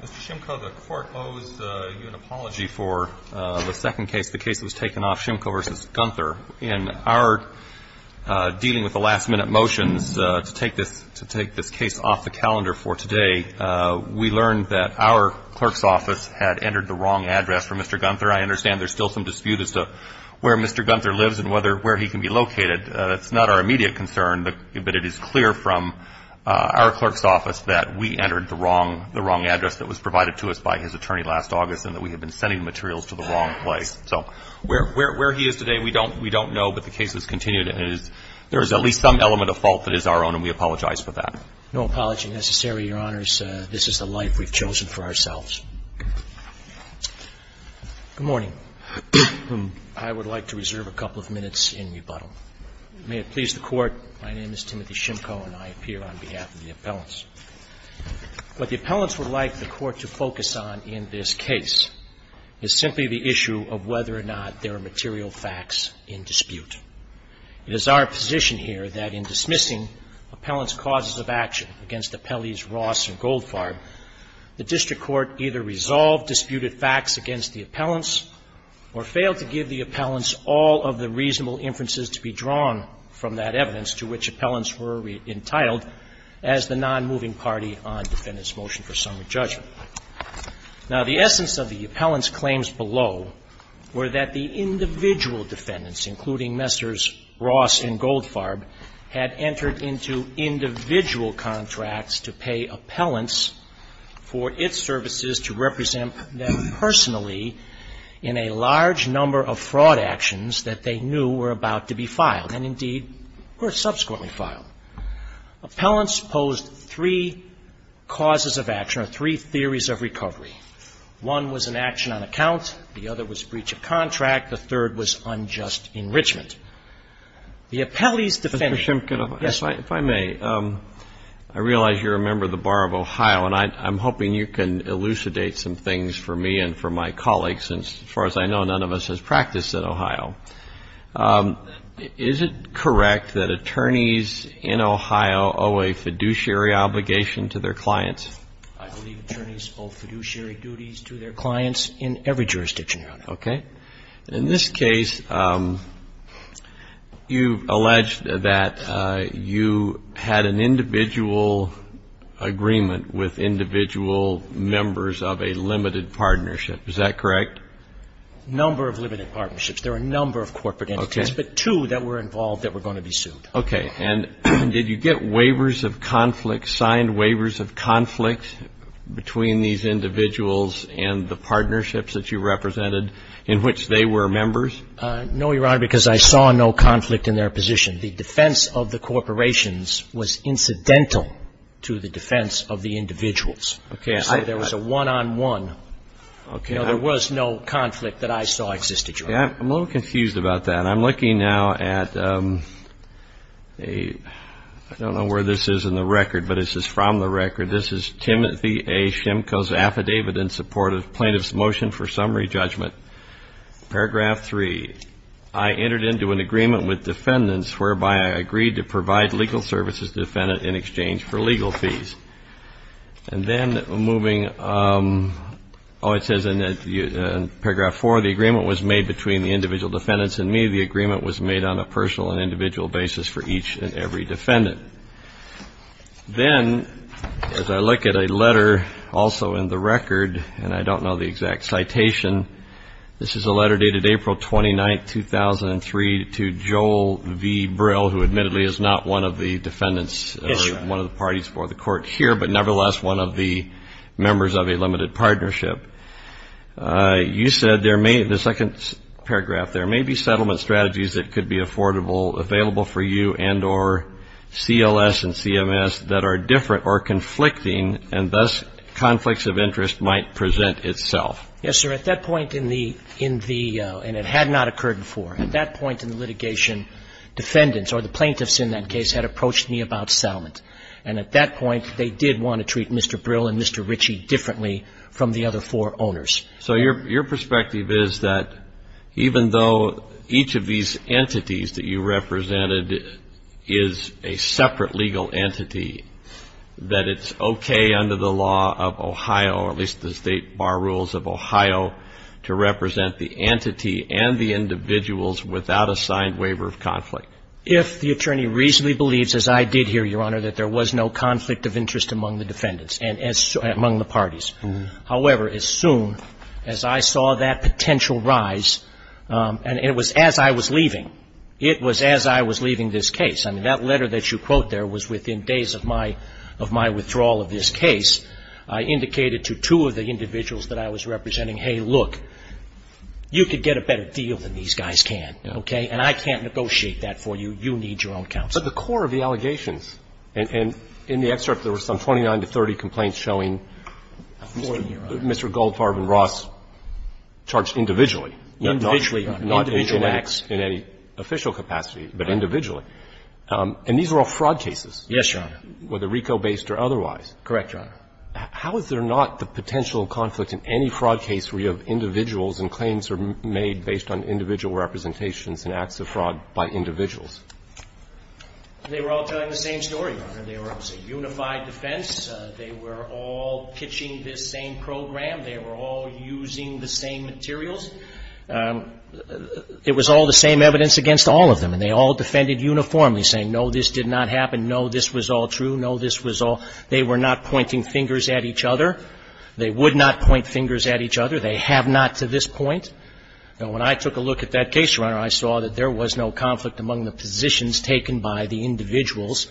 Mr. Shimko, the court owes you an apology for the second case, the case that was taken off Shimko v. Gunther. In our dealing with the last-minute motions to take this case off the calendar for today, we learned that our clerk's office had entered the wrong address for Mr. Gunther. I understand there's still some dispute as to where Mr. Gunther lives and where he can be located. That's not our immediate concern, but it is clear from our clerk's office that we entered the wrong address that was provided to us by his attorney last August and that we had been sending materials to the wrong place. So where he is today, we don't know, but the case has continued. There is at least some element of fault that we apologize for that. No apology necessary, Your Honors. This is the life we've chosen for ourselves. Good morning. I would like to reserve a couple of minutes in rebuttal. May it please the Court, my name is Timothy Shimko and I appear on behalf of the appellants. What the appellants would like the Court to focus on in this case is simply the issue of whether or not there are material facts in dispute. It is our position here that in dismissing appellants' causes of action against appellees Ross and Goldfarb, the district court either resolved disputed facts against the appellants or failed to give the appellants all of the reasonable inferences to be drawn from that evidence to which appellants were entitled as the nonmoving party on defendant's motion for summary judgment. Now, the essence of the appellants' claims below were that the individual defendants, including Messrs. Ross and Goldfarb, had entered into individual contracts to pay appellants for its services to represent them personally in a large number of fraud actions that they knew were about to be filed and, indeed, were subsequently filed. Appellants posed three causes of action or three theories of recovery. One was an action on account, the other was breach of contract, the third was unjust enrichment. The appellee's defendant ---- Mr. Simpkin, if I may, I realize you're a member of the Bar of Ohio, and I'm hoping you can elucidate some things for me and for my colleagues since, as far as I know, none of us has practiced at Ohio. Is it correct that attorneys in Ohio owe a fiduciary obligation to their clients? I believe attorneys owe fiduciary duties to their clients in every jurisdiction around Ohio. Okay. In this case, you allege that you had an individual agreement with individual members of a limited partnership. Is that correct? Number of limited partnerships. There are a number of corporate entities, but two that were involved that were going to be sued. Okay. And did you get waivers of conflict, signed waivers of conflict between these individuals and the partnerships that you represented in which they were members? No, Your Honor, because I saw no conflict in their position. The defense of the corporations was incidental to the defense of the individuals. Okay. I So there was a one-on-one, you know, there was no conflict that I saw existed, Your Honor. I'm a little confused about that. I'm looking now at a, I don't know where this is in the record, but it says from the record, this is Timothy A. Shimko's affidavit in support of plaintiff's motion for summary judgment. Paragraph three, I entered into an agreement with defendants whereby I agreed to provide legal services to the defendant in exchange for legal fees. And then moving, oh, it says in paragraph four, the agreement was made between the individual defendants and me. The agreement was made on a personal and individual basis for each and every defendant. Then as I look at a letter also in the record, and I don't know the exact citation, this is a letter dated April 29th, 2003 to Joel V. Brill, who admittedly is not one of the defendants, one of the parties for the partnership. You said there may, in the second paragraph, there may be settlement strategies that could be affordable, available for you and or CLS and CMS that are different or conflicting and thus conflicts of interest might present itself. Yes, sir. At that point in the, in the, and it had not occurred before. At that point in the litigation, defendants or the plaintiffs in that case had approached me about settlement. And at that point, they did want to treat Mr. Brill and Mr. Ritchie differently from the other four owners. So your, your perspective is that even though each of these entities that you represented is a separate legal entity, that it's okay under the law of Ohio, or at least the state bar rules of Ohio, to represent the entity and the individuals without a signed waiver of conflict? If the attorney reasonably believes, as I did here, Your Honor, that there was no conflict between the parties. However, as soon as I saw that potential rise, and it was as I was leaving, it was as I was leaving this case. I mean, that letter that you quote there was within days of my, of my withdrawal of this case, I indicated to two of the individuals that I was representing, hey, look, you could get a better deal than these guys can, okay? And I can't negotiate that for you. You need your own counsel. But the core of the allegations, and in the excerpt there were some 29 to 30 complaints showing Mr. Goldfarb and Ross charged individually, not in acts in any official capacity, but individually. And these were all fraud cases. Yes, Your Honor. Whether RICO-based or otherwise. Correct, Your Honor. How is there not the potential conflict in any fraud case where you have individuals and claims are made based on individual representations and acts of fraud by individuals? They were all telling the same story, Your Honor. They were, it was a unified defense. They were all pitching this same program. They were all using the same materials. It was all the same evidence against all of them. And they all defended uniformly, saying, no, this did not happen. No, this was all true. No, this was all they were not pointing fingers at each other. They would not point fingers at each other. They have not to this point. Now, when I took a look at that case, Your Honor, I saw that there was no conflict among the positions taken by the individuals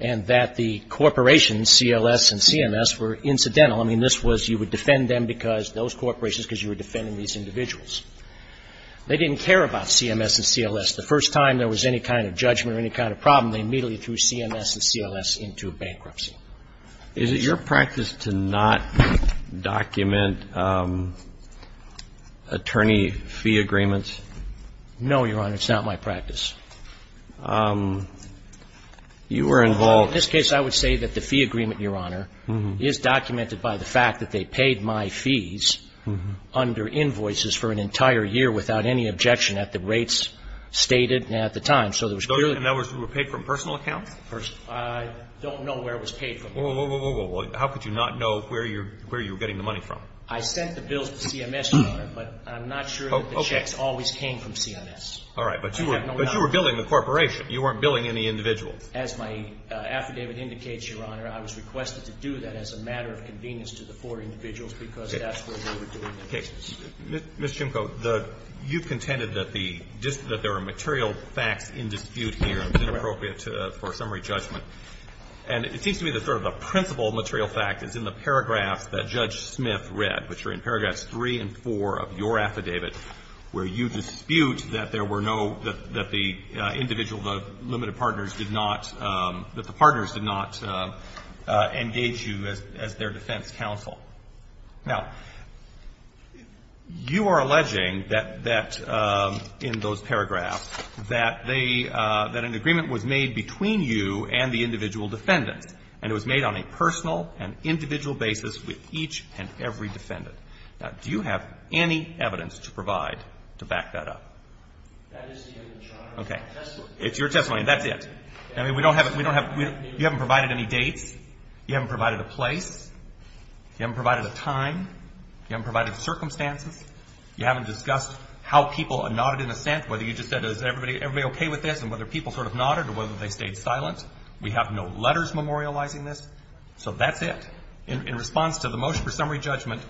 and that the corporations, CLS and CMS, were incidental. I mean, this was, you would defend them because those corporations because you were defending these individuals. They didn't care about CMS and CLS. The first time there was any kind of judgment or any kind of problem, they immediately threw CMS and CLS into bankruptcy. Is it your practice to not document attorney fee agreements? No, Your Honor. It's not my practice. You were involved In this case, I would say that the fee agreement, Your Honor, is documented by the fact that they paid my fees under invoices for an entire year without any objection at the rates stated at the time. So there was clearly In other words, you were paid from personal accounts? Personal. I don't know where it was paid from. Well, how could you not know where you were getting the money from? I sent the bills to CMS, Your Honor, but I'm not sure that the checks always came from CMS. All right. But you were billing the corporation. You weren't billing any individual. As my affidavit indicates, Your Honor, I was requested to do that as a matter of convenience to the four individuals because that's where they were doing the cases. Ms. Chimko, you contended that the just that there are material facts in dispute here is inappropriate for summary judgment. And it seems to me that sort of the principal material fact is in the paragraphs that Judge Smith read, which are in paragraphs 3 and 4 of your affidavit, where you dispute that there were no, that the individual, the limited partners did not, that the partners did not engage you as their defense counsel. Now, you are alleging that in those paragraphs that they, that an agreement was made between you and the individual defendant. And it was made on a personal and individual basis with each and every defendant. Now, do you have any evidence to provide to back that up? That is the evidence, Your Honor. Okay. It's your testimony. That's it. I mean, we don't have, we don't have, you haven't provided a place. You haven't provided a time. You haven't provided circumstances. You haven't discussed how people nodded in assent, whether you just said is everybody okay with this and whether people sort of nodded or whether they stayed silent. We have no letters memorializing this. So that's it. In response to the motion for summary judgment,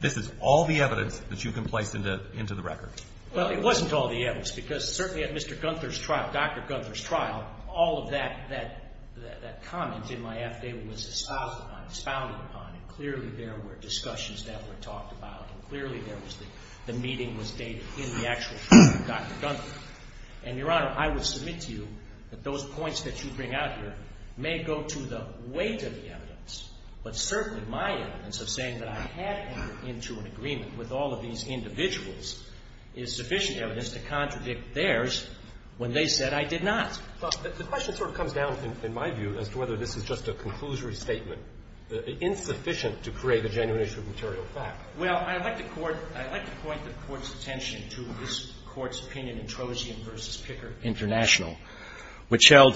this is all the evidence that you can place into the record. Well, it wasn't all the evidence because certainly at Mr. Gunther's trial, Dr. Gunther's trial, there was a lot of evidence that was passed upon, expounded upon, and clearly there were discussions that were talked about, and clearly there was the, the meeting was dated in the actual trial of Dr. Gunther. And, Your Honor, I would submit to you that those points that you bring out here may go to the weight of the evidence, but certainly my evidence of saying that I had entered into an agreement with all of these individuals is sufficient evidence to contradict theirs when they said I did not. The question sort of comes down, in my view, as to whether this is just a conclusory statement, insufficient to create a genuine issue of material fact. Well, I'd like to court, I'd like to point the Court's attention to this Court's opinion in Trojan v. Picker International, which held,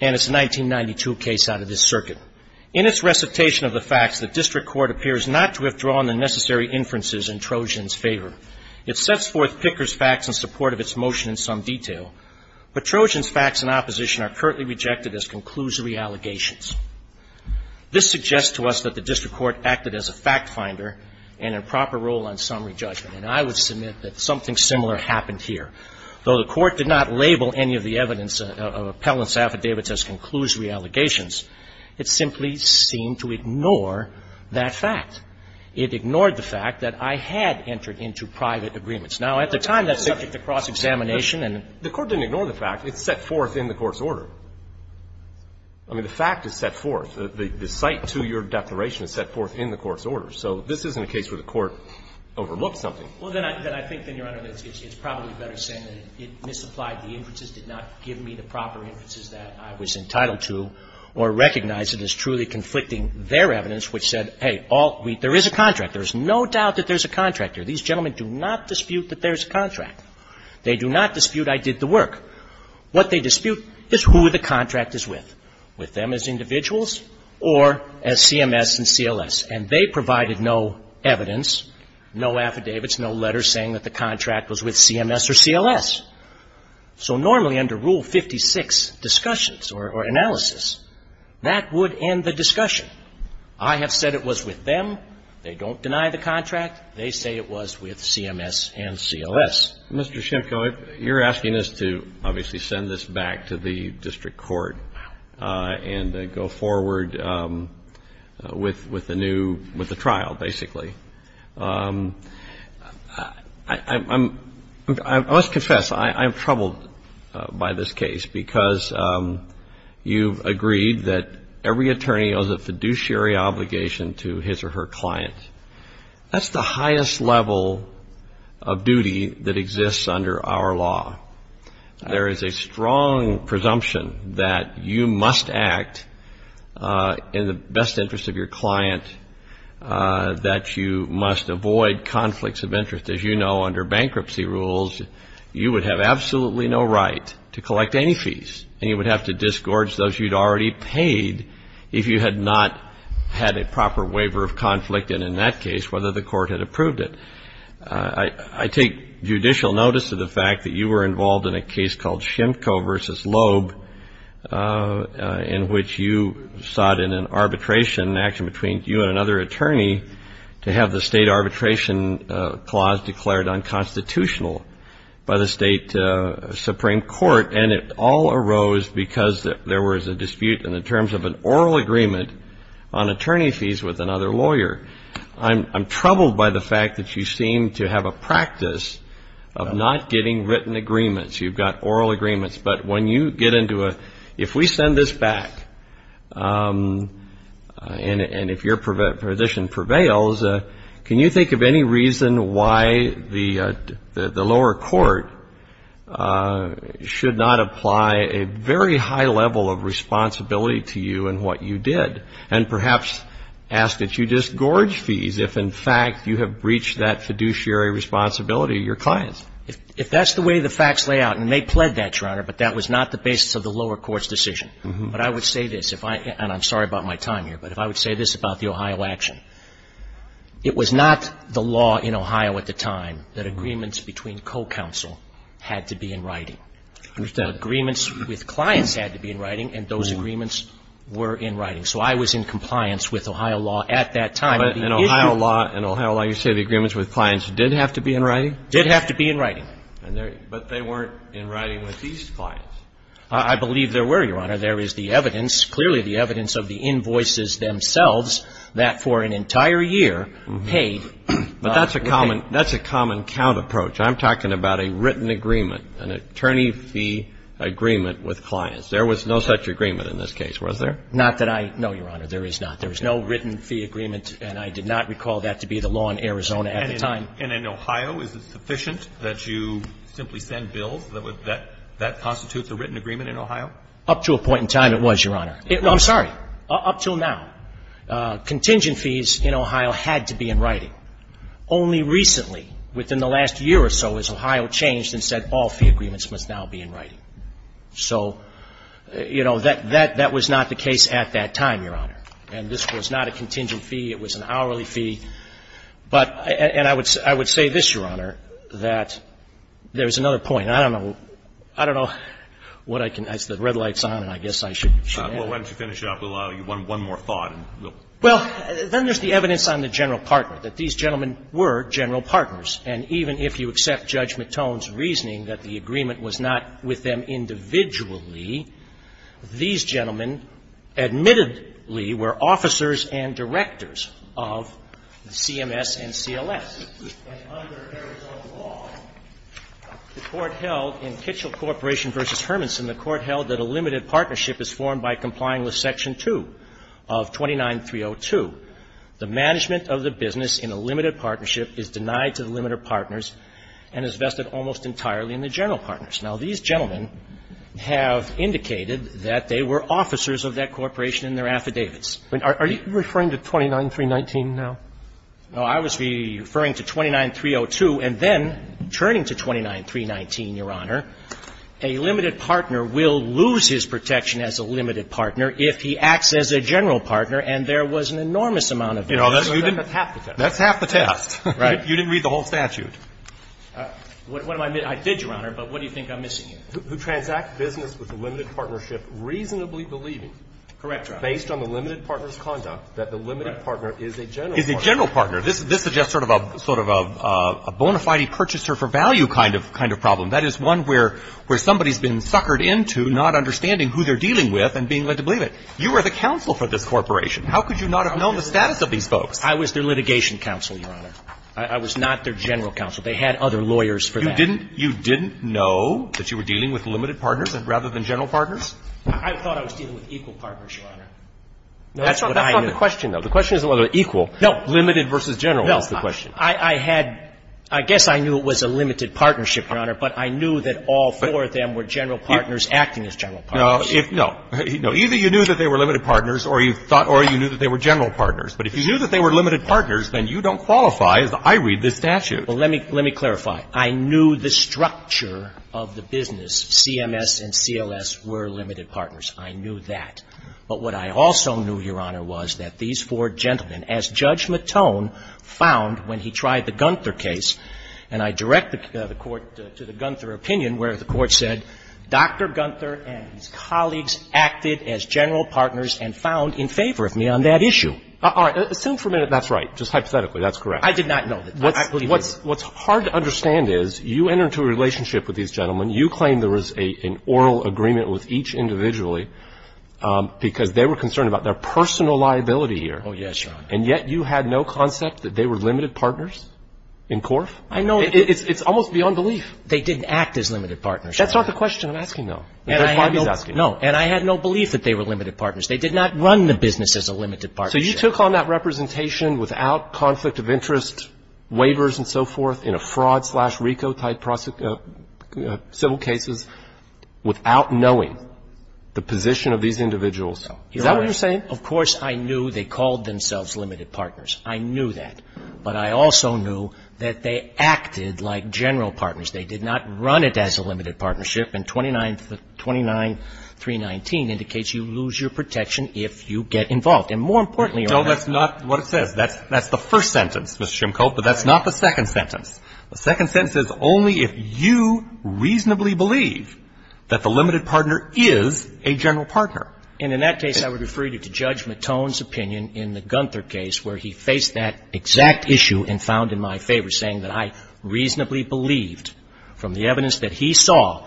and it's a 1992 case out of this circuit. In its recitation of the facts, the district court appears not to have drawn the necessary inferences in Trojan's favor. It sets forth Picker's facts in support of its motion in some detail. But Trojan's facts in opposition are currently rejected as conclusory allegations. This suggests to us that the district court acted as a fact finder and in proper role on summary judgment. And I would submit that something similar happened here. Though the court did not label any of the evidence of appellant's affidavits as conclusory allegations, it simply seemed to ignore that fact. It ignored the fact that I had entered into private agreements. Now, at the time, that's subject to cross-examination and the court didn't ignore the fact. It set forth in the Court's order. I mean, the fact is set forth. The site to your declaration is set forth in the Court's order. So this isn't a case where the court overlooked something. Well, then I think, then, Your Honor, that it's probably better saying that it misapplied the inferences, did not give me the proper inferences that I was entitled to, or recognized as truly conflicting their evidence, which said, hey, there is a contract. There's no doubt that there's a contract here. These gentlemen do not dispute that there's a contract. They do not dispute I did the work. What they dispute is who the contract is with, with them as individuals or as CMS and CLS. And they provided no evidence, no affidavits, no letters saying that the contract was with CMS or CLS. So normally under Rule 56 discussions or analysis, that would end the discussion. I have said it was with them. They don't deny the contract. They say it was with CMS and CLS. Mr. Schimko, you're asking us to obviously send this back to the district court and go forward with the new, with the trial, basically. I must confess, I'm troubled by this case because you've agreed that every attorney owes a fiduciary obligation to his or her client. That's the highest level of duty that exists under our law. There is a strong presumption that you must act in the best interest of your client, that you must avoid conflicts of interest. As you know, under bankruptcy rules, you would have absolutely no right to collect any fees. And you would have to disgorge those you'd already paid if you had not had a proper waiver of conflict, and in that case, whether the court had approved it. I take judicial notice of the fact that you were involved in a case called Schimko v. I have the state arbitration clause declared unconstitutional by the state supreme court, and it all arose because there was a dispute in the terms of an oral agreement on attorney fees with another lawyer. I'm troubled by the fact that you seem to have a practice of not getting written agreements. You've got oral agreements, but when you get into a, if we send this back, and if your position prevails, can you think of any reason why the lower court should not apply a very high level of responsibility to you in what you did, and perhaps ask that you just gorge fees if, in fact, you have breached that fiduciary responsibility of your clients? If that's the way the facts lay out, and they pled that, Your Honor, but that was not the basis of the lower court's decision. But I would say this. If I, and I'm sorry about my time here, but if I would say this about the Ohio action, it was not the law in Ohio at the time that agreements between co-counsel had to be in writing. I understand. Agreements with clients had to be in writing, and those agreements were in writing. So I was in compliance with Ohio law at that time. But in Ohio law, in Ohio law, you say the agreements with clients did have to be in writing? Did have to be in writing. And there, but they weren't in writing with these clients. I believe there were, Your Honor. There is the evidence, clearly the evidence of the invoices themselves, that for an entire year, paid. But that's a common, that's a common count approach. I'm talking about a written agreement, an attorney fee agreement with clients. There was no such agreement in this case, was there? Not that I know, Your Honor, there is not. There was no written fee agreement, and I did not recall that to be the law in Arizona at the time. And in Ohio, is it sufficient that you simply send bills that would, that constitute the written agreement in Ohio? Up to a point in time, it was, Your Honor. It was. I'm sorry. Up until now. Contingent fees in Ohio had to be in writing. Only recently, within the last year or so, has Ohio changed and said all fee agreements must now be in writing. So, you know, that was not the case at that time, Your Honor. And this was not a contingent fee. It was an hourly fee. But, and I would say this, Your Honor, that there's another point. I mean, I don't know. I don't know what I can ask. The red light's on, and I guess I should ask. Once you finish up, we'll allow you one more thought. Well, then there's the evidence on the general partner, that these gentlemen were general partners. And even if you accept Judge McTone's reasoning that the agreement was not with them individually, these gentlemen admittedly were officers and directors of CMS and CLS. And under Arizona law, the Court held in Kitchell Corporation v. Hermanson, the Court held that a limited partnership is formed by complying with Section 2 of 29302. The management of the business in a limited partnership is denied to the limited partners and is vested almost entirely in the general partners. Now, these gentlemen have indicated that they were officers of that corporation in their affidavits. Are you referring to 29319 now? No. I was referring to 29302 and then turning to 29319, Your Honor. A limited partner will lose his protection as a limited partner if he acts as a general partner and there was an enormous amount of damage. That's half the test. That's half the test. Right. You didn't read the whole statute. What am I missing? I did, Your Honor, but what do you think I'm missing here? Who transact business with a limited partnership reasonably believing, based on the limited partner's conduct, that the limited partner is a general partner. Is a general partner. This is just sort of a bona fide purchaser for value kind of problem. That is one where somebody's been suckered into not understanding who they're dealing with and being led to believe it. You were the counsel for this corporation. How could you not have known the status of these folks? I was their litigation counsel, Your Honor. I was not their general counsel. They had other lawyers for that. You didn't know that you were dealing with limited partners rather than general partners? I thought I was dealing with equal partners, Your Honor. That's not the question, though. The question isn't whether they're equal. No. Limited versus general is the question. No. I had – I guess I knew it was a limited partnership, Your Honor, but I knew that all four of them were general partners acting as general partners. No. Either you knew that they were limited partners or you thought or you knew that they were general partners. But if you knew that they were limited partners, then you don't qualify as I read this statute. Well, let me clarify. I knew the structure of the business, CMS and CLS, were limited partners. I knew that. But what I also knew, Your Honor, was that these four gentlemen, as Judge Matone found when he tried the Gunther case, and I direct the Court to the Gunther opinion where the Court said, Dr. Gunther and his colleagues acted as general partners and found in favor of me on that issue. All right. Assume for a minute that's right, just hypothetically that's correct. I did not know that. What's hard to understand is you enter into a relationship with these gentlemen. You claim there was an oral agreement with each individually because they were concerned about their personal liability here. Oh, yes, Your Honor. And yet you had no concept that they were limited partners in Corf? I know. It's almost beyond belief. They didn't act as limited partners. That's not the question I'm asking, though. That's what I'm asking. No. And I had no belief that they were limited partners. They did not run the business as a limited partnership. So you took on that representation without conflict of interest, waivers and so forth, in a fraud-slash-RICO-type civil cases, without knowing the position of these individuals. Is that what you're saying? Your Honor, of course I knew they called themselves limited partners. I knew that. But I also knew that they acted like general partners. They did not run it as a limited partnership. And 29319 indicates you lose your protection if you get involved. And more importantly, Your Honor ---- No, that's not what it says. That's the first sentence, Mr. Shimko. But that's not the second sentence. The second sentence says only if you reasonably believe that the limited partner is a general partner. And in that case, I would refer you to Judge McTone's opinion in the Gunther case, where he faced that exact issue and found in my favor, saying that I reasonably believed, from the evidence that he saw,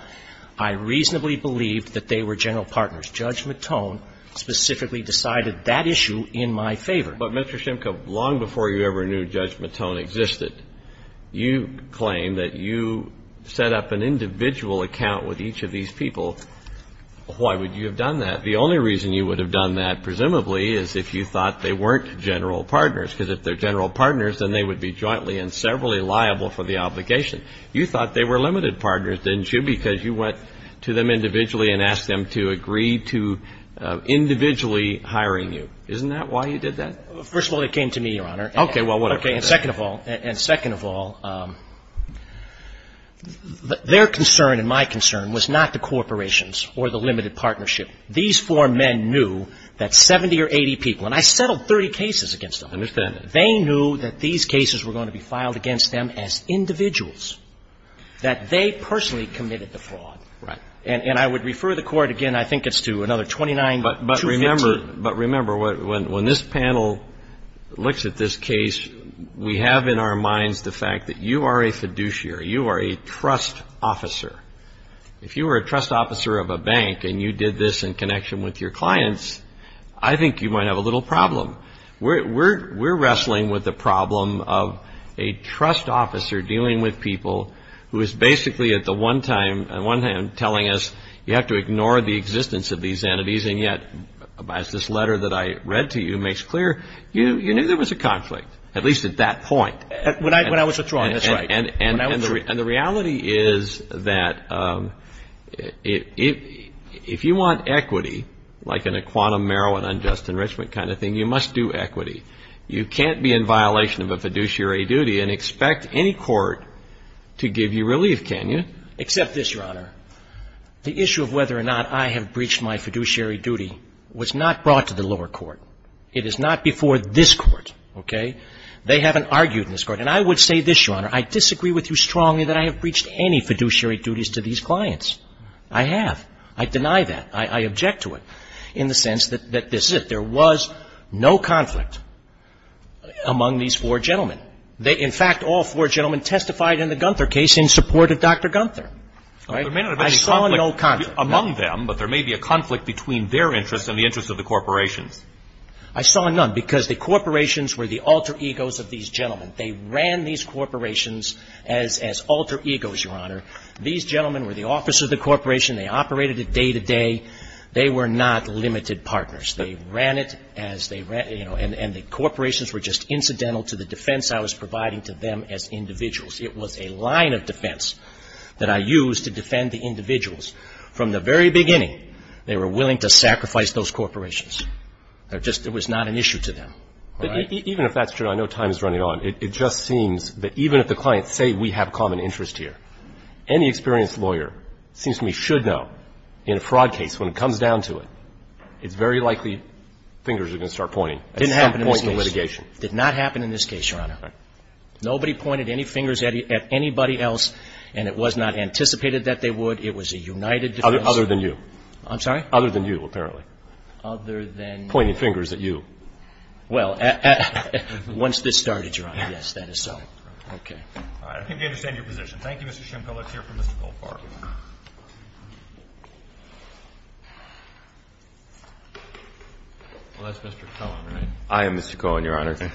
I reasonably believed that they were general partners. Judge McTone specifically decided that issue in my favor. But, Mr. Shimko, long before you ever knew Judge McTone existed, you claim that you set up an individual account with each of these people. Why would you have done that? The only reason you would have done that, presumably, is if you thought they weren't general partners. Because if they're general partners, then they would be jointly and severally liable for the obligation. You thought they were limited partners, didn't you, because you went to them individually and asked them to agree to individually hiring you. Isn't that why you did that? First of all, it came to me, Your Honor. Okay. Well, whatever. Okay. And second of all, and second of all, their concern and my concern was not the corporations or the limited partnership. These four men knew that 70 or 80 people, and I settled 30 cases against them. I understand that. They knew that these cases were going to be filed against them as individuals, that they personally committed the fraud. Right. And I would refer the Court, again, I think it's to another 29 to 15. But remember, when this panel looks at this case, we have in our minds the fact that you are a fiduciary. You are a trust officer. If you were a trust officer of a bank and you did this in connection with your clients, I think you might have a little problem. We're wrestling with the problem of a trust officer dealing with people who is basically at the one time telling us you have to ignore the existence of these entities. And yet, as this letter that I read to you makes clear, you knew there was a conflict, at least at that point. When I was withdrawing, that's right. And the reality is that if you want equity, like in a quantum marijuana and just enrichment kind of thing, you must do equity. You can't be in violation of a fiduciary duty and expect any court to give you relief, can you? Except this, Your Honor. The issue of whether or not I have breached my fiduciary duty was not brought to the lower court. It is not before this Court, okay? They haven't argued in this Court. And I would say this, Your Honor. I disagree with you strongly that I have breached any fiduciary duties to these clients. I have. I deny that. I object to it in the sense that this is it. There was no conflict among these four gentlemen. In fact, all four gentlemen testified in the Gunther case in support of Dr. Gunther. I saw no conflict. There may not have been a conflict among them, but there may be a conflict between their interests and the interests of the corporations. I saw none because the corporations were the alter egos of these gentlemen. They ran these corporations as alter egos, Your Honor. These gentlemen were the officers of the corporation. They operated it day to day. They were not limited partners. They ran it as they ran it, you know, and the corporations were just incidental to the defense I was providing to them as individuals. It was a line of defense that I used to defend the individuals. From the very beginning, they were willing to sacrifice those corporations. It was not an issue to them, all right? Even if that's true, I know time is running on. It just seems that even if the clients say we have common interest here, any experienced lawyer seems to me should know in a fraud case when it comes down to it, it's very likely fingers are going to start pointing at some point in the litigation. It didn't happen in this case. It did not happen in this case, Your Honor. Nobody pointed any fingers at anybody else, and it was not anticipated that they would. It was a united defense. Other than you. I'm sorry? Other than you, apparently. Other than you. Pointing fingers at you. Well, once this started, Your Honor, yes, that is so. Okay. All right. I think I understand your position. Thank you, Mr. Shimko. Let's hear from Mr. Goldfarb. Well, that's Mr. Cohen, right? I am Mr. Cohen, Your Honor. Okay.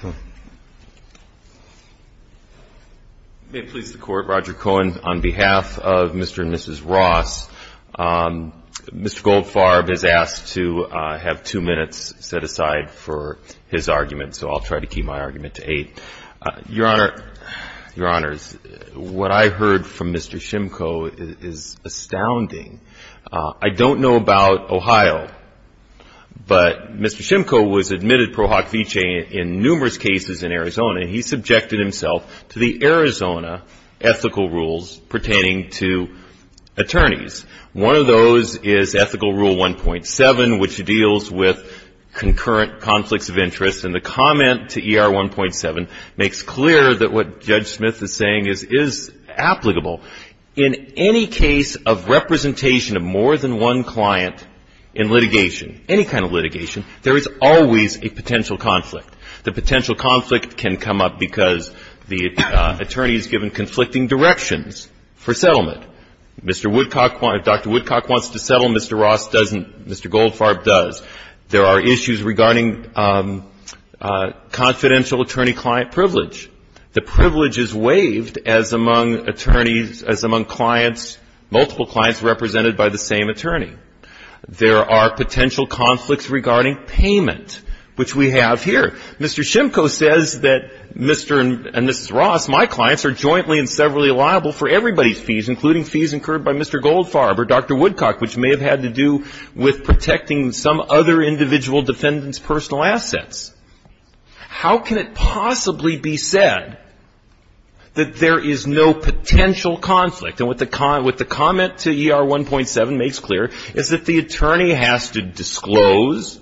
May it please the Court, Roger Cohen, on behalf of Mr. and Mrs. Ross, Mr. Goldfarb has asked to have two minutes set aside for his argument, so I'll try to keep my argument to eight. Your Honor, Your Honors, what I heard from Mr. Shimko is that he's a lawyer, and his argument is astounding. I don't know about Ohio, but Mr. Shimko was admitted pro hoc vice in numerous cases in Arizona, and he subjected himself to the Arizona ethical rules pertaining to attorneys. One of those is Ethical Rule 1.7, which deals with concurrent conflicts of interest, and the comment to ER 1.7 makes clear that what Judge Smith is saying is applicable. In any case of representation of more than one client in litigation, any kind of litigation, there is always a potential conflict. The potential conflict can come up because the attorney is given conflicting directions for settlement. Mr. Woodcock, if Dr. Woodcock wants to settle, Mr. Ross doesn't, Mr. Goldfarb does. There are issues regarding confidential attorney-client privilege. The privilege is waived as among attorneys, as among clients, multiple clients represented by the same attorney. There are potential conflicts regarding payment, which we have here. Mr. Shimko says that Mr. and Mrs. Ross, my clients, are jointly and severally liable for everybody's fees, including fees incurred by Mr. Goldfarb or Dr. Woodcock, which may have had to do with protecting some other individual defendant's personal assets. How can it possibly be said that there is no potential conflict? And what the comment to ER 1.7 makes clear is that the attorney has to disclose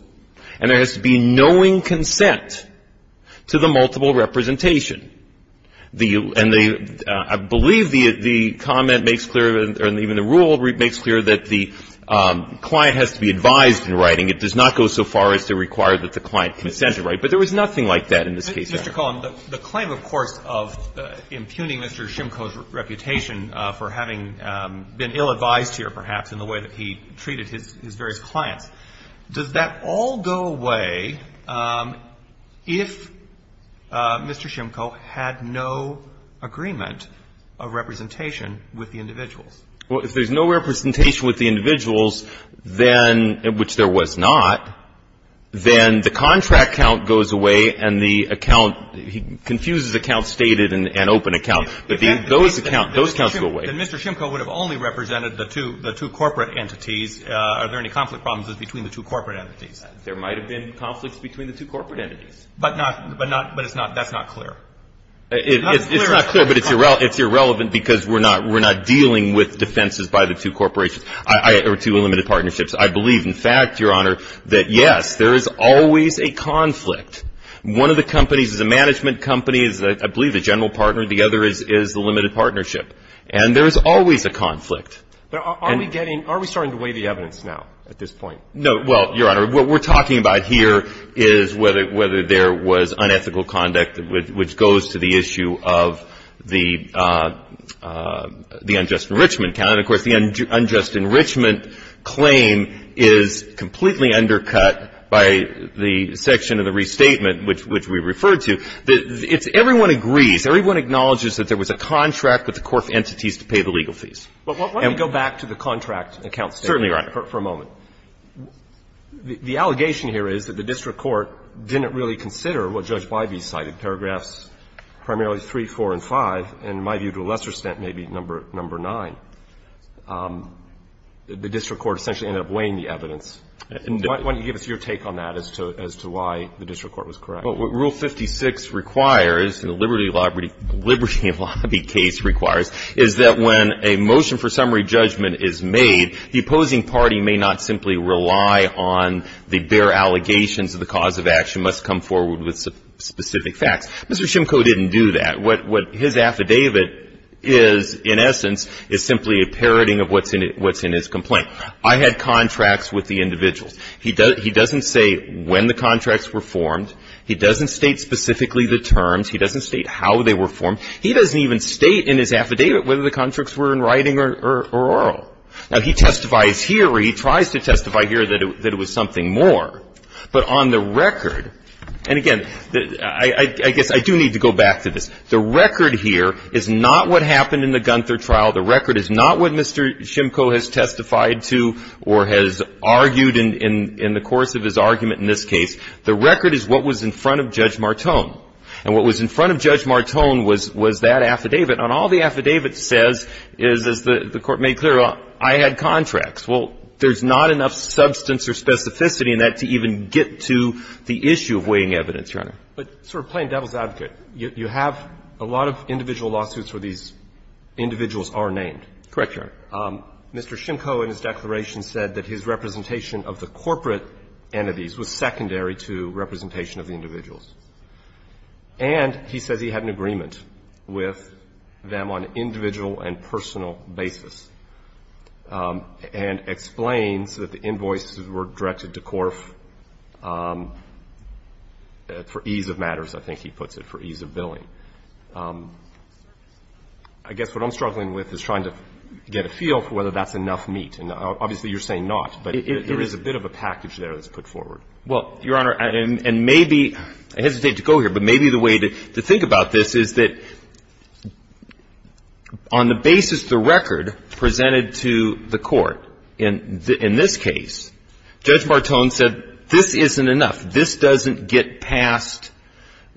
and there has to be knowing consent to the multiple representation. And I believe the comment makes clear, or even the rule makes clear, that the client has to be advised in writing. It does not go so far as to require that the client consent to write. But there was nothing like that in this case. Mr. Cullen, the claim, of course, of impugning Mr. Shimko's reputation for having been ill-advised here, perhaps, in the way that he treated his various clients, does that all go away if Mr. Shimko had no agreement of representation with the individuals? Well, if there's no representation with the individuals, then, which there was not, then the contract count goes away and the account, he confuses account stated and open account. But those accounts go away. Then Mr. Shimko would have only represented the two corporate entities. Are there any conflict problems between the two corporate entities? There might have been conflicts between the two corporate entities. But not, but it's not, that's not clear. It's not clear, but it's irrelevant because we're not dealing with defenses by the two corporations, or two unlimited partnerships. I believe, in fact, Your Honor, that, yes, there is always a conflict. One of the companies is a management company, I believe, a general partner. The other is the limited partnership. And there is always a conflict. But are we getting, are we starting to weigh the evidence now at this point? No. Well, Your Honor, what we're talking about here is whether there was unethical conduct, which goes to the issue of the unjust enrichment count. And, of course, the unjust enrichment claim is completely undercut by the section of the restatement, which we referred to. It's everyone agrees, everyone acknowledges that there was a contract with the corporate entities to pay the legal fees. But why don't we go back to the contract account statement for a moment. Certainly, Your Honor. The allegation here is that the district court didn't really consider what Judge Wyvie cited, paragraphs primarily 3, 4, and 5, and, in my view, to a lesser extent, maybe number 9. The district court essentially ended up weighing the evidence. Why don't you give us your take on that as to why the district court was correct? Well, what Rule 56 requires, and the Liberty Lobby case requires, is that when a motion for summary judgment is made, the opposing party may not simply rely on the bare allegations of the cause of action, must come forward with specific facts. Mr. Shimko didn't do that. What his affidavit is, in essence, is simply a parodying of what's in his complaint. I had contracts with the individuals. He doesn't say when the contracts were formed. He doesn't state specifically the terms. He doesn't state how they were formed. He doesn't even state in his affidavit whether the contracts were in writing or oral. Now, he testifies here, or he tries to testify here, that it was something more. But on the record, and again, I guess I do need to go back to this. The record here is not what happened in the Gunther trial. The record is not what Mr. Shimko has testified to or has argued in the course of his argument in this case. The record is what was in front of Judge Martone. And what was in front of Judge Martone was that affidavit. And all the affidavit says is, as the Court made clear, I had contracts. Well, there's not enough substance or specificity in that to even get to the issue of weighing evidence, Your Honor. But sort of playing devil's advocate, you have a lot of individual lawsuits where these individuals are named. Correct, Your Honor. Mr. Shimko in his declaration said that his representation of the corporate entities was secondary to representation of the individuals. And he says he had an agreement with them on an individual and personal basis. And explains that the invoices were directed to Corf for ease of matters, I think he puts it, for ease of billing. I guess what I'm struggling with is trying to get a feel for whether that's enough meat. And obviously you're saying not, but there is a bit of a package there that's put forward. Well, Your Honor, and maybe I hesitate to go here, but maybe the way to think about this is that on the basis of the record presented to the Court in this case, Judge Bartone said this isn't enough. This doesn't get past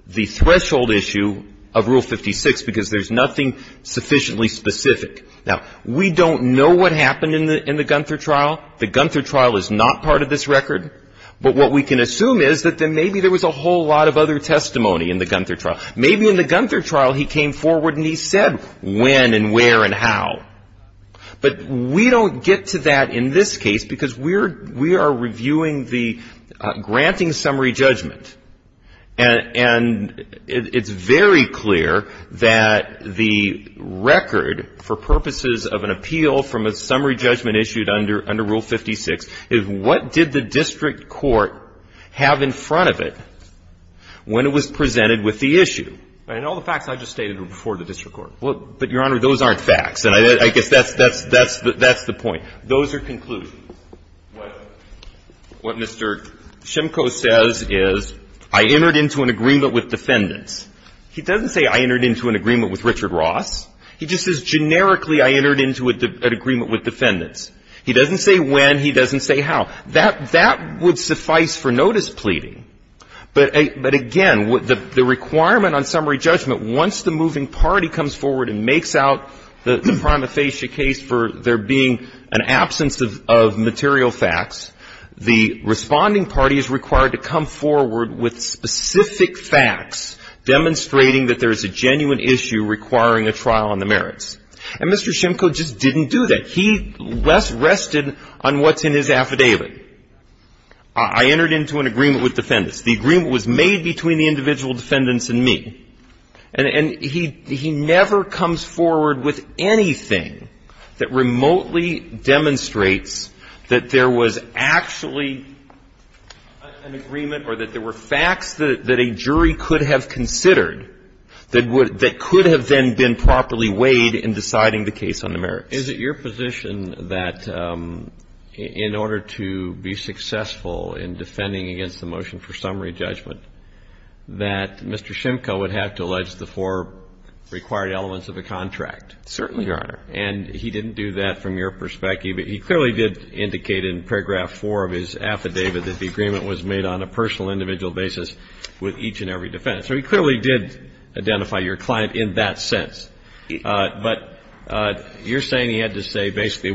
the threshold issue of Rule 56 because there's nothing sufficiently specific. Now, we don't know what happened in the Gunther trial. The Gunther trial is not part of this record. But what we can assume is that maybe there was a whole lot of other testimony in the Gunther trial. Maybe in the Gunther trial he came forward and he said when and where and how. But we don't get to that in this case because we are reviewing the granting summary judgment. And it's very clear that the record for purposes of an appeal from a summary judgment issued under Rule 56 is what did the district court have in front of it when it was And that's the issue. And all the facts I just stated were before the district court. But, Your Honor, those aren't facts. And I guess that's the point. Those are conclusions. What Mr. Shimko says is I entered into an agreement with defendants. He doesn't say I entered into an agreement with Richard Ross. He just says generically I entered into an agreement with defendants. He doesn't say when. He doesn't say how. Now, that would suffice for notice pleading. But, again, the requirement on summary judgment, once the moving party comes forward and makes out the prima facie case for there being an absence of material facts, the responding party is required to come forward with specific facts demonstrating that there is a genuine issue requiring a trial on the merits. And Mr. Shimko just didn't do that. He less rested on what's in his affidavit. I entered into an agreement with defendants. The agreement was made between the individual defendants and me. And he never comes forward with anything that remotely demonstrates that there was actually an agreement or that there were facts that a jury could have considered that could have then been properly weighed in deciding the case on the merits. Is it your position that in order to be successful in defending against the motion for summary judgment, that Mr. Shimko would have to allege the four required elements of a contract? Certainly, Your Honor. And he didn't do that from your perspective. He clearly did indicate in paragraph 4 of his affidavit that the agreement was made on a personal individual basis with each and every defendant. So he clearly did identify your client in that sense. But you're saying he had to say basically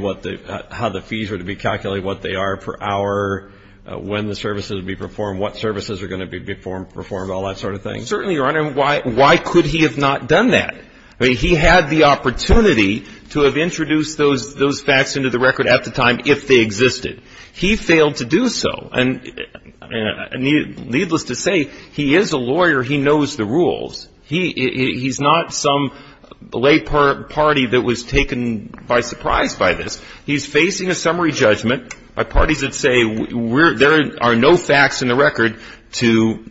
how the fees were to be calculated, what they are per hour, when the services would be performed, what services are going to be performed, all that sort of thing? Certainly, Your Honor. Why could he have not done that? He had the opportunity to have introduced those facts into the record at the time if they existed. He failed to do so. And needless to say, he is a lawyer. He knows the rules. He's not some lay party that was taken by surprise by this. He's facing a summary judgment by parties that say there are no facts in the record to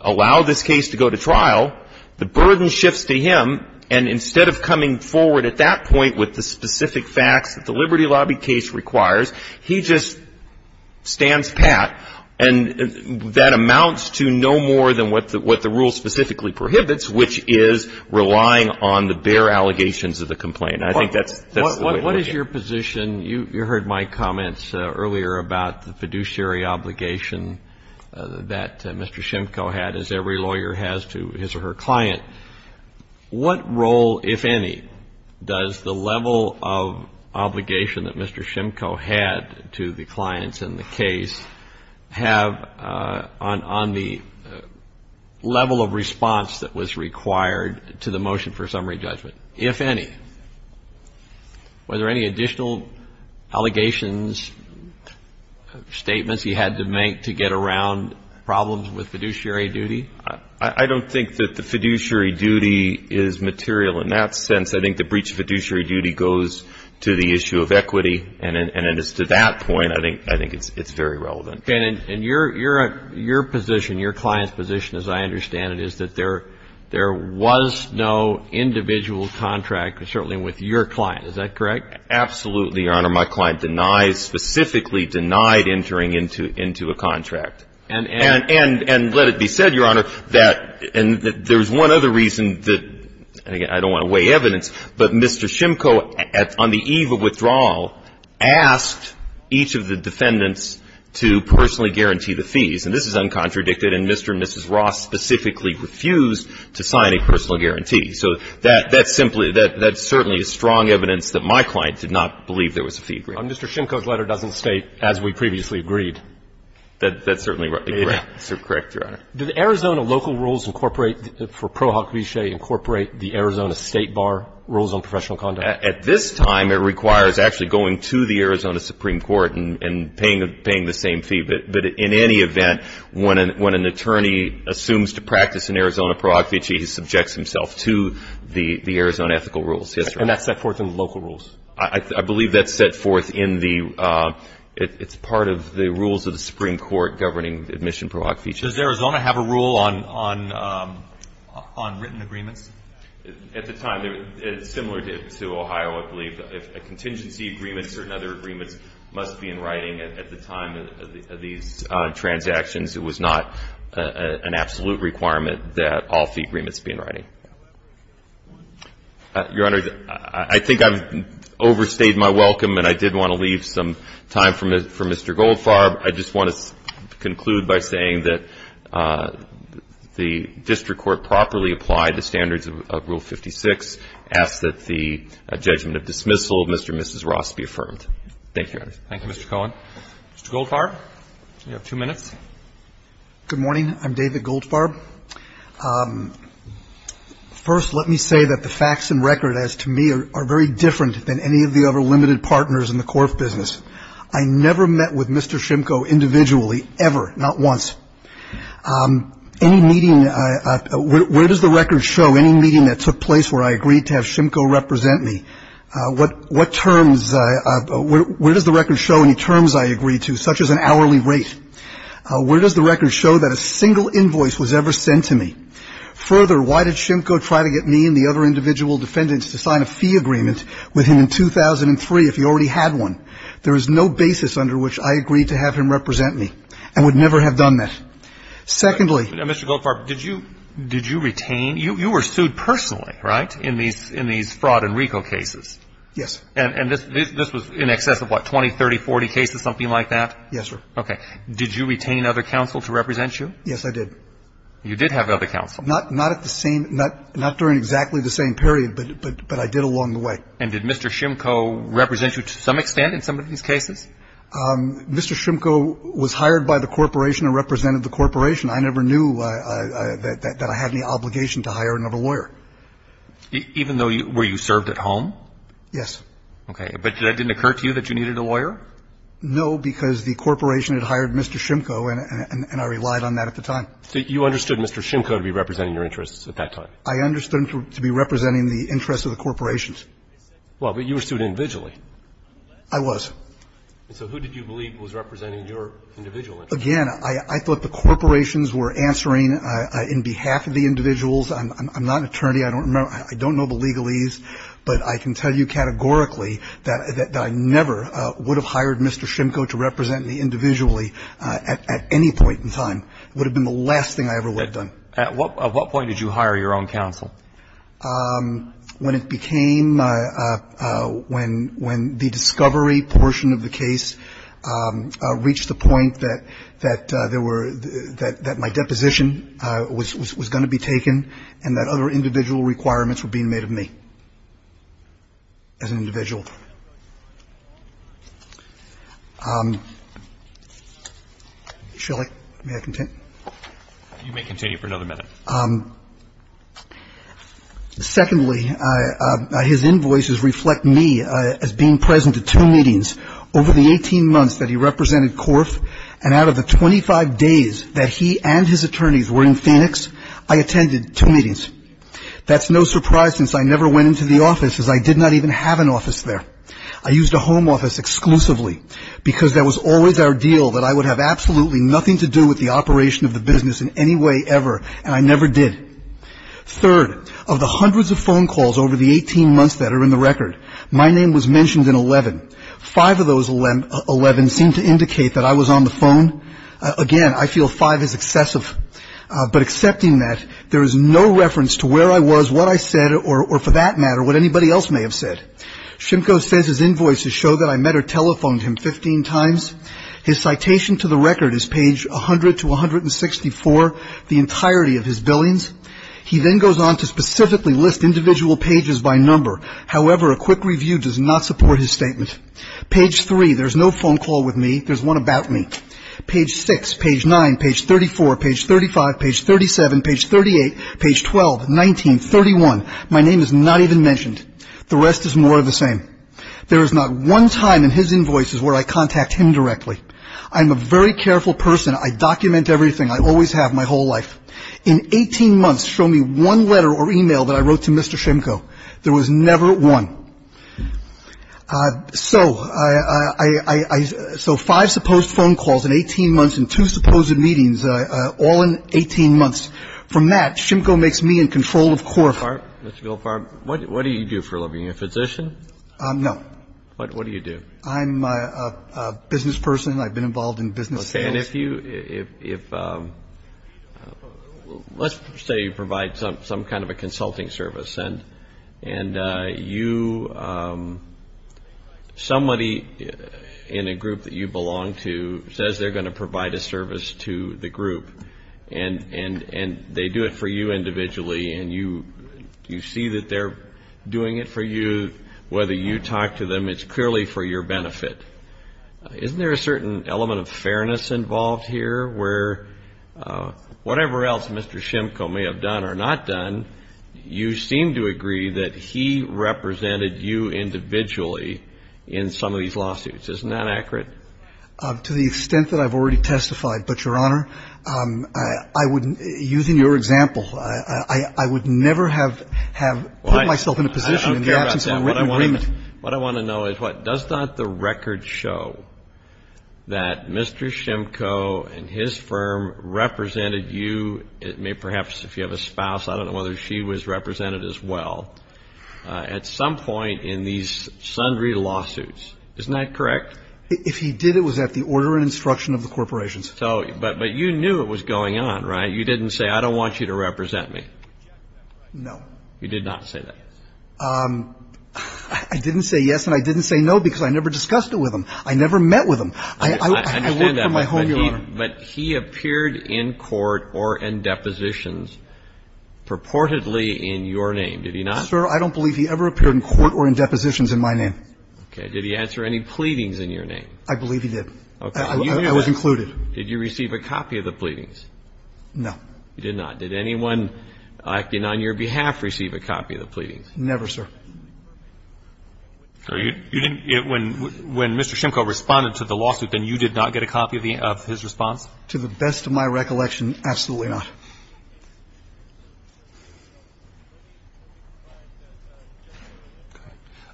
allow this case to go to trial. The burden shifts to him. And instead of coming forward at that point with the specific facts that the Liberty Lobby case requires, he just stands pat. And that amounts to no more than what the rule specifically prohibits, which is relying on the bare allegations of the complaint. I think that's the way to look at it. What is your position? You heard my comments earlier about the fiduciary obligation that Mr. Shimko had, as every lawyer has to his or her client. What role, if any, does the level of obligation that Mr. Shimko and his clients in the case have on the level of response that was required to the motion for summary judgment, if any? Were there any additional allegations, statements he had to make to get around problems with fiduciary duty? I don't think that the fiduciary duty is material in that sense. I think the breach of fiduciary duty goes to the issue of equity. And as to that point, I think it's very relevant. And your position, your client's position, as I understand it, is that there was no individual contract, certainly with your client. Is that correct? Absolutely, Your Honor. My client specifically denied entering into a contract. And let it be said, Your Honor, that there's one other reason that, and again, I don't want to weigh evidence, but Mr. Shimko, on the eve of withdrawal, asked each of the defendants to personally guarantee the fees. And this is uncontradicted. And Mr. and Mrs. Ross specifically refused to sign a personal guarantee. So that's simply, that's certainly strong evidence that my client did not believe there was a fee agreement. Mr. Shimko's letter doesn't state, as we previously agreed. That's certainly correct, Your Honor. Did Arizona local rules incorporate, for Pro Hoc Vice, incorporate the Arizona State Bar rules on professional conduct? At this time, it requires actually going to the Arizona Supreme Court and paying the same fee. But in any event, when an attorney assumes to practice an Arizona Pro Hoc Vice, he subjects himself to the Arizona ethical rules. And that's set forth in the local rules? I believe that's set forth in the, it's part of the rules of the Supreme Court governing admission Pro Hoc Vice. Does Arizona have a rule on written agreements? At the time, it's similar to Ohio, I believe. A contingency agreement, certain other agreements must be in writing at the time of these transactions. It was not an absolute requirement that all fee agreements be in writing. Your Honor, I think I've overstayed my welcome, and I did want to leave some time for Mr. Goldfarb. I just want to conclude by saying that the district court properly applied the standards of Rule 56, ask that the judgment of dismissal of Mr. and Mrs. Ross be affirmed. Thank you, Your Honor. Thank you, Mr. Cohen. Mr. Goldfarb, you have two minutes. Good morning. I'm David Goldfarb. First, let me say that the facts and record, as to me, are very different than any of the other limited partners in the court of business. I never met with Mr. Shimko individually, ever, not once. Any meeting, where does the record show, any meeting that took place where I agreed to have Shimko represent me, what terms, where does the record show any terms I agreed to, such as an hourly rate? Where does the record show that a single invoice was ever sent to me? Further, why did Shimko try to get me and the other individual defendants to sign a fee agreement with him in 2003 if he already had one? There is no basis under which I agreed to have him represent me, and would never have done that. Secondly, Mr. Goldfarb, did you retain, you were sued personally, right, in these fraud and RICO cases? Yes. And this was in excess of what, 20, 30, 40 cases, something like that? Yes, sir. Okay. Did you retain other counsel to represent you? Yes, I did. You did have other counsel? Not at the same, not during exactly the same period, but I did along the way. And did Mr. Shimko represent you to some extent in some of these cases? Mr. Shimko was hired by the corporation and represented the corporation. I never knew that I had any obligation to hire another lawyer. Even though you were served at home? Yes. Okay. But that didn't occur to you that you needed a lawyer? No, because the corporation had hired Mr. Shimko, and I relied on that at the time. So you understood Mr. Shimko to be representing your interests at that time? I understood him to be representing the interests of the corporations. Well, but you were sued individually. I was. So who did you believe was representing your individual interests? Again, I thought the corporations were answering on behalf of the individuals. I'm not an attorney. I don't know the legalese, but I can tell you categorically that I never would have hired Mr. Shimko to represent me individually at any point in time. It would have been the last thing I ever would have done. At what point did you hire your own counsel? When it became my – when the discovery portion of the case reached the point that there were – that my deposition was going to be taken and that other individual requirements were being made of me as an individual. Shelly, may I continue? You may continue for another minute. Secondly, his invoices reflect me as being present at two meetings. Over the 18 months that he represented Corf and out of the 25 days that he and his attorneys were in Phoenix, I attended two meetings. That's no surprise since I never went into the office as I did not even have an office there. I used a home office exclusively because that was always our deal that I would have absolutely nothing to do with the operation of the business in any way ever, and I never did. Third, of the hundreds of phone calls over the 18 months that are in the record, my name was mentioned in 11. Five of those 11 seemed to indicate that I was on the phone. Again, I feel five is excessive. But accepting that, there is no reference to where I was, what I said, or for that matter what anybody else may have said. Shimko says his invoices show that I met or telephoned him 15 times. His citation to the record is page 100 to 164, the entirety of his billings. He then goes on to specifically list individual pages by number. However, a quick review does not support his statement. Page 3, there's no phone call with me. There's one about me. Page 6, page 9, page 34, page 35, page 37, page 38, page 12, 19, 31, my name is not even mentioned. The rest is more of the same. There is not one time in his invoices where I contact him directly. I'm a very careful person. I document everything. I always have, my whole life. In 18 months, show me one letter or e-mail that I wrote to Mr. Shimko. There was never one. So I so five supposed phone calls in 18 months and two supposed meetings all in 18 months. From that, Shimko makes me in control of court. Mr. Goldfarb, Mr. Goldfarb, what do you do for a living? Are you a physician? No. What do you do? I'm a business person. I've been involved in business sales. Okay. And if you, if, let's say you provide some kind of a consulting service and you, somebody in a group that you belong to says they're going to provide a service to the group and they do it for you individually and you see that they're doing it for you, whether you talk to them, it's clearly for your benefit. Isn't there a certain element of fairness involved here where whatever else Mr. Shimko may have done or not done, you seem to agree that he represented you individually in some of these lawsuits. Isn't that accurate? To the extent that I've already testified. But, Your Honor, I would, using your example, I would never have put myself in a position in the absence of a written agreement. What I want to know is, what, does not the record show that Mr. Shimko and his firm represented you, perhaps if you have a spouse, I don't know whether she was represented as well, at some point in these sundry lawsuits. Isn't that correct? If he did, it was at the order and instruction of the corporations. But you knew it was going on, right? You didn't say, I don't want you to represent me. No. You did not say that. I didn't say yes and I didn't say no because I never discussed it with him. I never met with him. I worked from my home, Your Honor. But he appeared in court or in depositions purportedly in your name. Did he not? Sir, I don't believe he ever appeared in court or in depositions in my name. Okay. Did he answer any pleadings in your name? I believe he did. Okay. I was included. Did you receive a copy of the pleadings? No. You did not. Did anyone acting on your behalf receive a copy of the pleadings? Never, sir. When Mr. Shimko responded to the lawsuit, then you did not get a copy of his response? To the best of my recollection, absolutely not.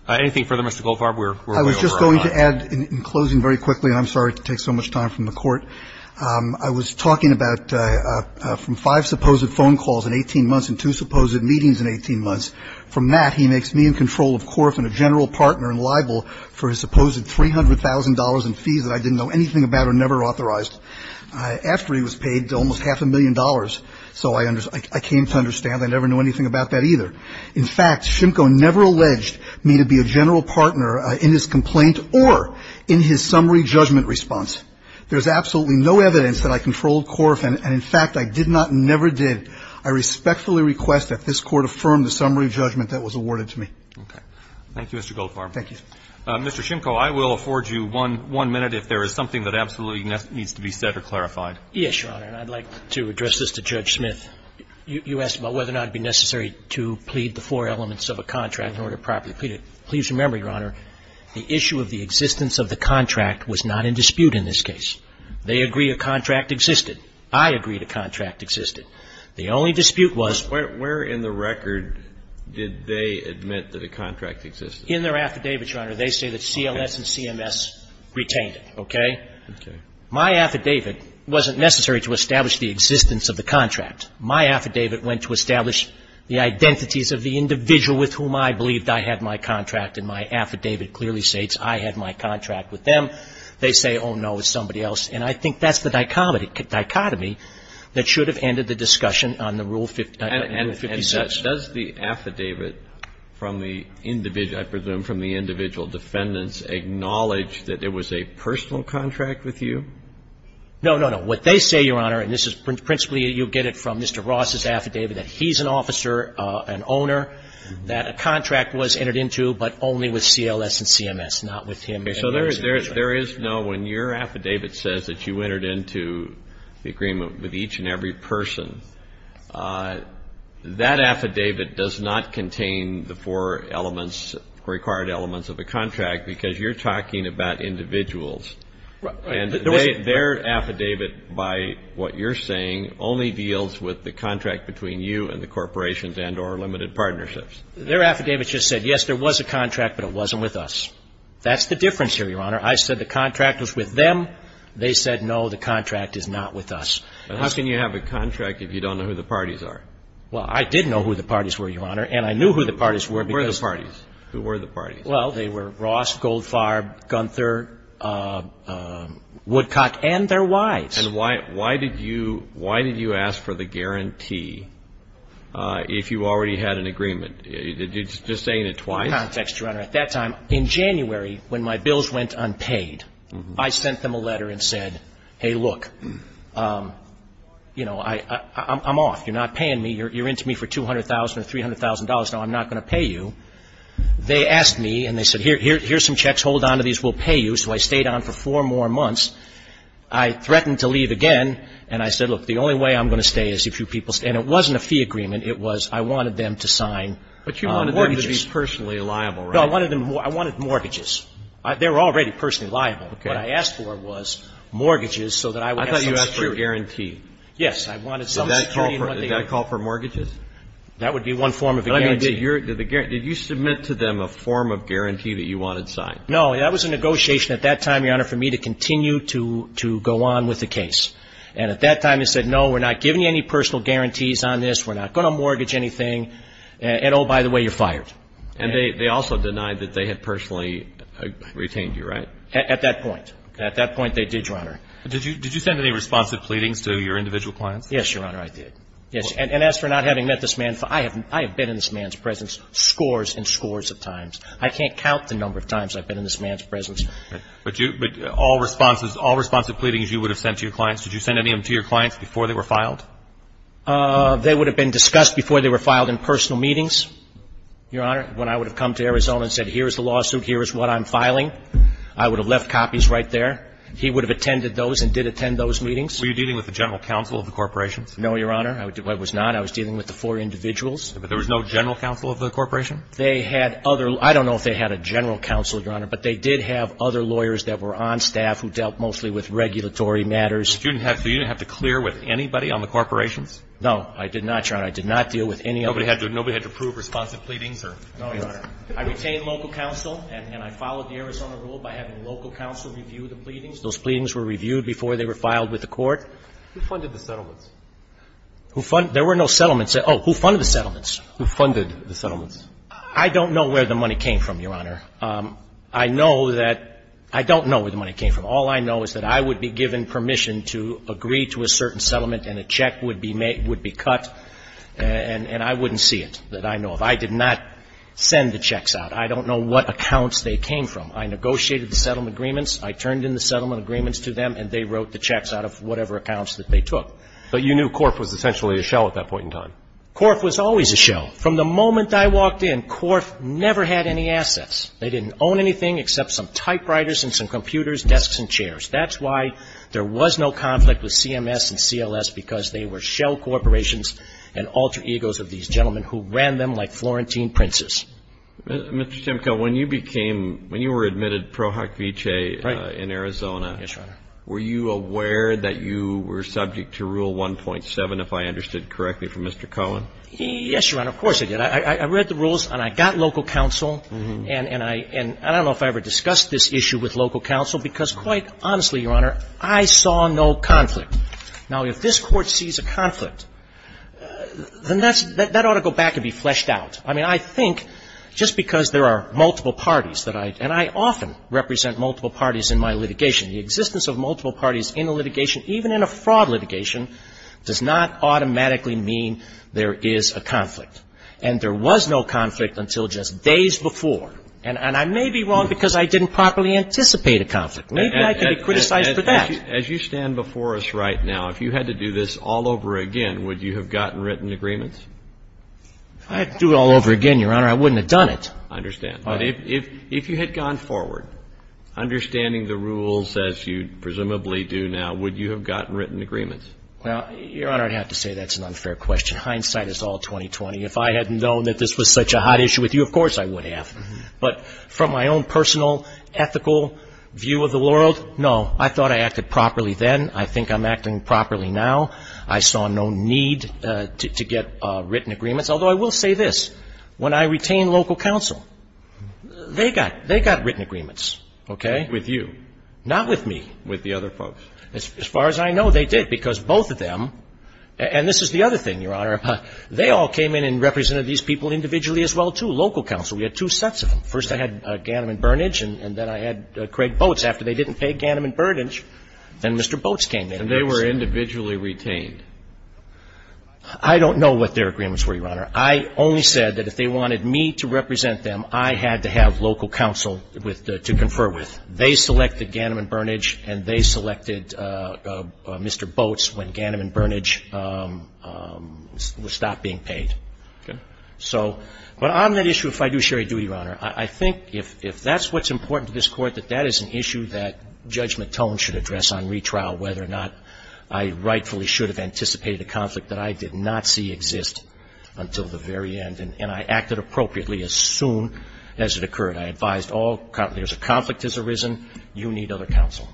Anything further, Mr. Goldfarb? I was just going to add in closing very quickly, and I'm sorry to take so much time from the court. I was talking about from five supposed phone calls in 18 months and two supposed meetings in 18 months. From that, he makes me in control of Korf and a general partner and libel for his supposed $300,000 in fees that I didn't know anything about or never authorized after he was paid almost half a million dollars. So I came to understand I never knew anything about that either. In fact, Shimko never alleged me to be a general partner in his complaint or in his summary judgment response. There's absolutely no evidence that I controlled Korf, and in fact, I did not and never did. I respectfully request that this Court affirm the summary judgment that was awarded to me. Okay. Thank you, Mr. Goldfarb. Thank you, sir. Mr. Shimko, I will afford you one minute if there is something that absolutely needs to be said or clarified. Yes, Your Honor, and I'd like to address this to Judge Smith. You asked about whether or not it would be necessary to plead the four elements of a contract in order to properly plead it. Please remember, Your Honor, the issue of the existence of the contract was not in dispute in this case. They agree a contract existed. I agreed a contract existed. The only dispute was ---- Where in the record did they admit that a contract existed? In their affidavits, Your Honor. They say that CLS and CMS retained it, okay? Okay. My affidavit wasn't necessary to establish the existence of the contract. My affidavit went to establish the identities of the individual with whom I believed I had my contract. And my affidavit clearly states I had my contract with them. They say, oh, no, it was somebody else. And I think that's the dichotomy that should have ended the discussion on the Rule 50 and Rule 56. And does the affidavit from the individual ---- I presume from the individual defendants acknowledge that it was a personal contract with you? No, no, no. What they say, Your Honor, and this is principally you'll get it from Mr. Ross's affidavit, that he's an officer, an owner, that a contract was entered into, but only with CLS and CMS, not with him. Okay. So there is no ---- when your affidavit says that you entered into the agreement with each and every person, that affidavit does not contain the four elements, required elements of a contract, because you're talking about individuals. Right. And their affidavit, by what you're saying, only deals with the contract between you and the corporations and or limited partnerships. Their affidavit just said, yes, there was a contract, but it wasn't with us. That's the difference here, Your Honor. I said the contract was with them. They said, no, the contract is not with us. How can you have a contract if you don't know who the parties are? Well, I did know who the parties were, Your Honor. Who were the parties? Who were the parties? Well, they were Ross, Goldfarb, Gunther, Woodcock, and their wives. And why did you ask for the guarantee if you already had an agreement? You're just saying it twice. In context, Your Honor, at that time, in January, when my bills went unpaid, I sent them a letter and said, hey, look, you know, I'm off. You're not paying me. You're into me for $200,000 or $300,000. Now, I'm not going to pay you. They asked me, and they said, here's some checks. Hold on to these. We'll pay you. So I stayed on for four more months. I threatened to leave again, and I said, look, the only way I'm going to stay is if you people stay. And it wasn't a fee agreement. It was I wanted them to sign mortgages. But you wanted them to be personally liable, right? No. I wanted mortgages. They were already personally liable. Okay. What I asked for was mortgages so that I would have some security. I thought you asked for a guarantee. Yes. I wanted some security. Is that a call for mortgages? That would be one form of a guarantee. Did you submit to them a form of guarantee that you wanted signed? No. That was a negotiation at that time, Your Honor, for me to continue to go on with the case. And at that time, they said, no, we're not giving you any personal guarantees on this. We're not going to mortgage anything. And, oh, by the way, you're fired. And they also denied that they had personally retained you, right? At that point. At that point, they did, Your Honor. Did you send any responsive pleadings to your individual clients? Yes, Your Honor, I did. Yes. And as for not having met this man, I have been in this man's presence scores and scores of times. I can't count the number of times I've been in this man's presence. But all responsive pleadings you would have sent to your clients, did you send any of them to your clients before they were filed? They would have been discussed before they were filed in personal meetings, Your Honor, when I would have come to Arizona and said, here is the lawsuit, here is what I'm filing. I would have left copies right there. He would have attended those and did attend those meetings. Were you dealing with the general counsel of the corporations? No, Your Honor. I was not. I was dealing with the four individuals. But there was no general counsel of the corporation? They had other. I don't know if they had a general counsel, Your Honor. But they did have other lawyers that were on staff who dealt mostly with regulatory matters. So you didn't have to clear with anybody on the corporations? No, I did not, Your Honor. I did not deal with any of them. Nobody had to prove responsive pleadings or anything? No, Your Honor. I retained local counsel and I followed the Arizona rule by having local counsel review the pleadings. Those pleadings were reviewed before they were filed with the court. Who funded the settlements? There were no settlements. Oh, who funded the settlements? Who funded the settlements? I don't know where the money came from, Your Honor. I know that — I don't know where the money came from. All I know is that I would be given permission to agree to a certain settlement and a check would be made — would be cut, and I wouldn't see it, that I know of. I did not send the checks out. I don't know what accounts they came from. I negotiated the settlement agreements. I turned in the settlement agreements to them and they wrote the checks out of whatever accounts that they took. But you knew Corf was essentially a shell at that point in time? Corf was always a shell. From the moment I walked in, Corf never had any assets. They didn't own anything except some typewriters and some computers, desks and chairs. That's why there was no conflict with CMS and CLS because they were shell corporations and alter egos of these gentlemen who ran them like Florentine princes. Mr. Simcoe, when you became — when you were admitted pro hoc vicee in Arizona, were you aware that you were subject to Rule 1.7, if I understood correctly, from Mr. Cohen? Yes, Your Honor. Of course I did. I read the rules and I got local counsel and I don't know if I ever discussed this issue with local counsel because, quite honestly, Your Honor, I saw no conflict. Now, if this Court sees a conflict, then that ought to go back and be fleshed out. I mean, I think just because there are multiple parties that I — and I often represent multiple parties in my litigation. The existence of multiple parties in a litigation, even in a fraud litigation, does not automatically mean there is a conflict. And there was no conflict until just days before. And I may be wrong because I didn't properly anticipate a conflict. Maybe I can be criticized for that. As you stand before us right now, if you had to do this all over again, would you have gotten written agreements? If I had to do it all over again, Your Honor, I wouldn't have done it. I understand. But if you had gone forward, understanding the rules as you presumably do now, would you have gotten written agreements? Well, Your Honor, I'd have to say that's an unfair question. Hindsight is all 2020. If I hadn't known that this was such a hot issue with you, of course I would have. But from my own personal ethical view of the world, no. I thought I acted properly then. I think I'm acting properly now. I saw no need to get written agreements. Although I will say this. When I retained local counsel, they got written agreements, okay? With you. Not with me. With the other folks. As far as I know, they did, because both of them, and this is the other thing, Your Honor, they all came in and represented these people individually as well, too, local counsel. We had two sets of them. First I had Ganim and Burnidge, and then I had Craig Boats. After they didn't pay Ganim and Burnidge, then Mr. Boats came in. And they were individually retained. I don't know what their agreements were, Your Honor. I only said that if they wanted me to represent them, I had to have local counsel to confer with. They selected Ganim and Burnidge, and they selected Mr. Boats when Ganim and Burnidge stopped being paid. Okay. So, but on that issue of fiduciary duty, Your Honor, I think if that's what's important to this Court, that that is an issue that Judge McTone should address on retrial, whether or not I rightfully should have anticipated a conflict that I did not see exist until the very end, and I acted appropriately as soon as it occurred. I advised all, there's a conflict has arisen, you need other counsel.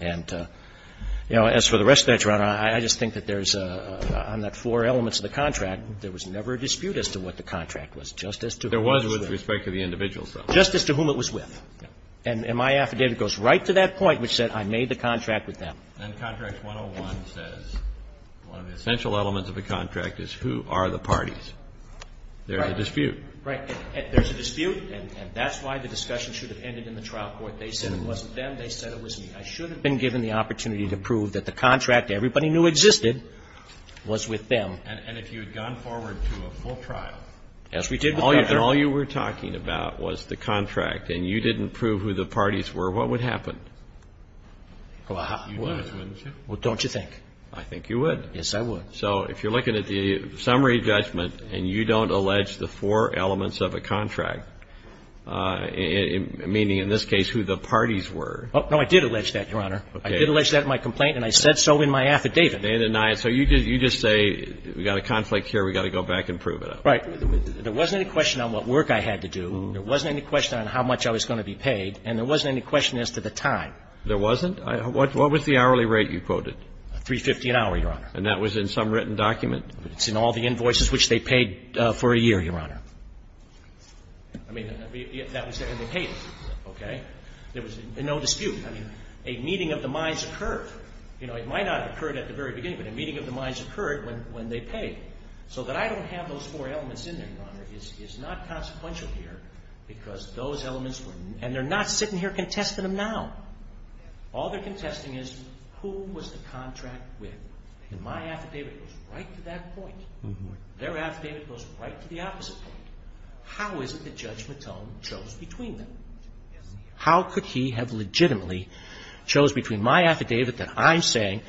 And, you know, as for the rest of that, Your Honor, I just think that there's on that four elements of the contract, there was never a dispute as to what the contract was. Justice to whom it was with. There was with respect to the individuals, though. Justice to whom it was with. And my affidavit goes right to that point, which said I made the contract with them. And contract 101 says one of the essential elements of the contract is who are the parties. There's a dispute. Right. There's a dispute, and that's why the discussion should have ended in the trial court. They said it wasn't them. They said it was me. I should have been given the opportunity to prove that the contract everybody knew existed was with them. And if you had gone forward to a full trial. Yes, we did. All you were talking about was the contract. And you didn't prove who the parties were. What would happen? Well, don't you think? I think you would. Yes, I would. So if you're looking at the summary judgment and you don't allege the four elements of a contract, meaning in this case who the parties were. No, I did allege that, Your Honor. Okay. I did allege that in my complaint, and I said so in my affidavit. So you just say we've got a conflict here. We've got to go back and prove it. Right. There wasn't any question on what work I had to do. There wasn't any question on how much I was going to be paid. And there wasn't any question as to the time. There wasn't? What was the hourly rate you quoted? $350 an hour, Your Honor. And that was in some written document? It's in all the invoices which they paid for a year, Your Honor. I mean, that was there and they paid it. Okay. There was no dispute. I mean, a meeting of the minds occurred. You know, it might not have occurred at the very beginning, but a meeting of the is not consequential here because those elements were, and they're not sitting here contesting them now. All they're contesting is who was the contract with. And my affidavit goes right to that point. Their affidavit goes right to the opposite point. How is it that Judge Matone chose between them? How could he have legitimately chose between my affidavit that I'm saying,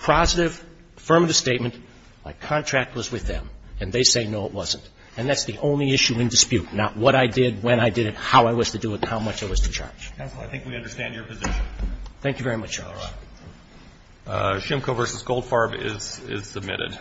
positive, affirmative statement, my contract was with them, and they say, no, it wasn't? And that's the only issue in dispute, not what I did, when I did it, how I was to do it, how much I was to charge. Counsel, I think we understand your position. Thank you very much, Your Honor. All right. Shimko v. Goldfarb is submitted.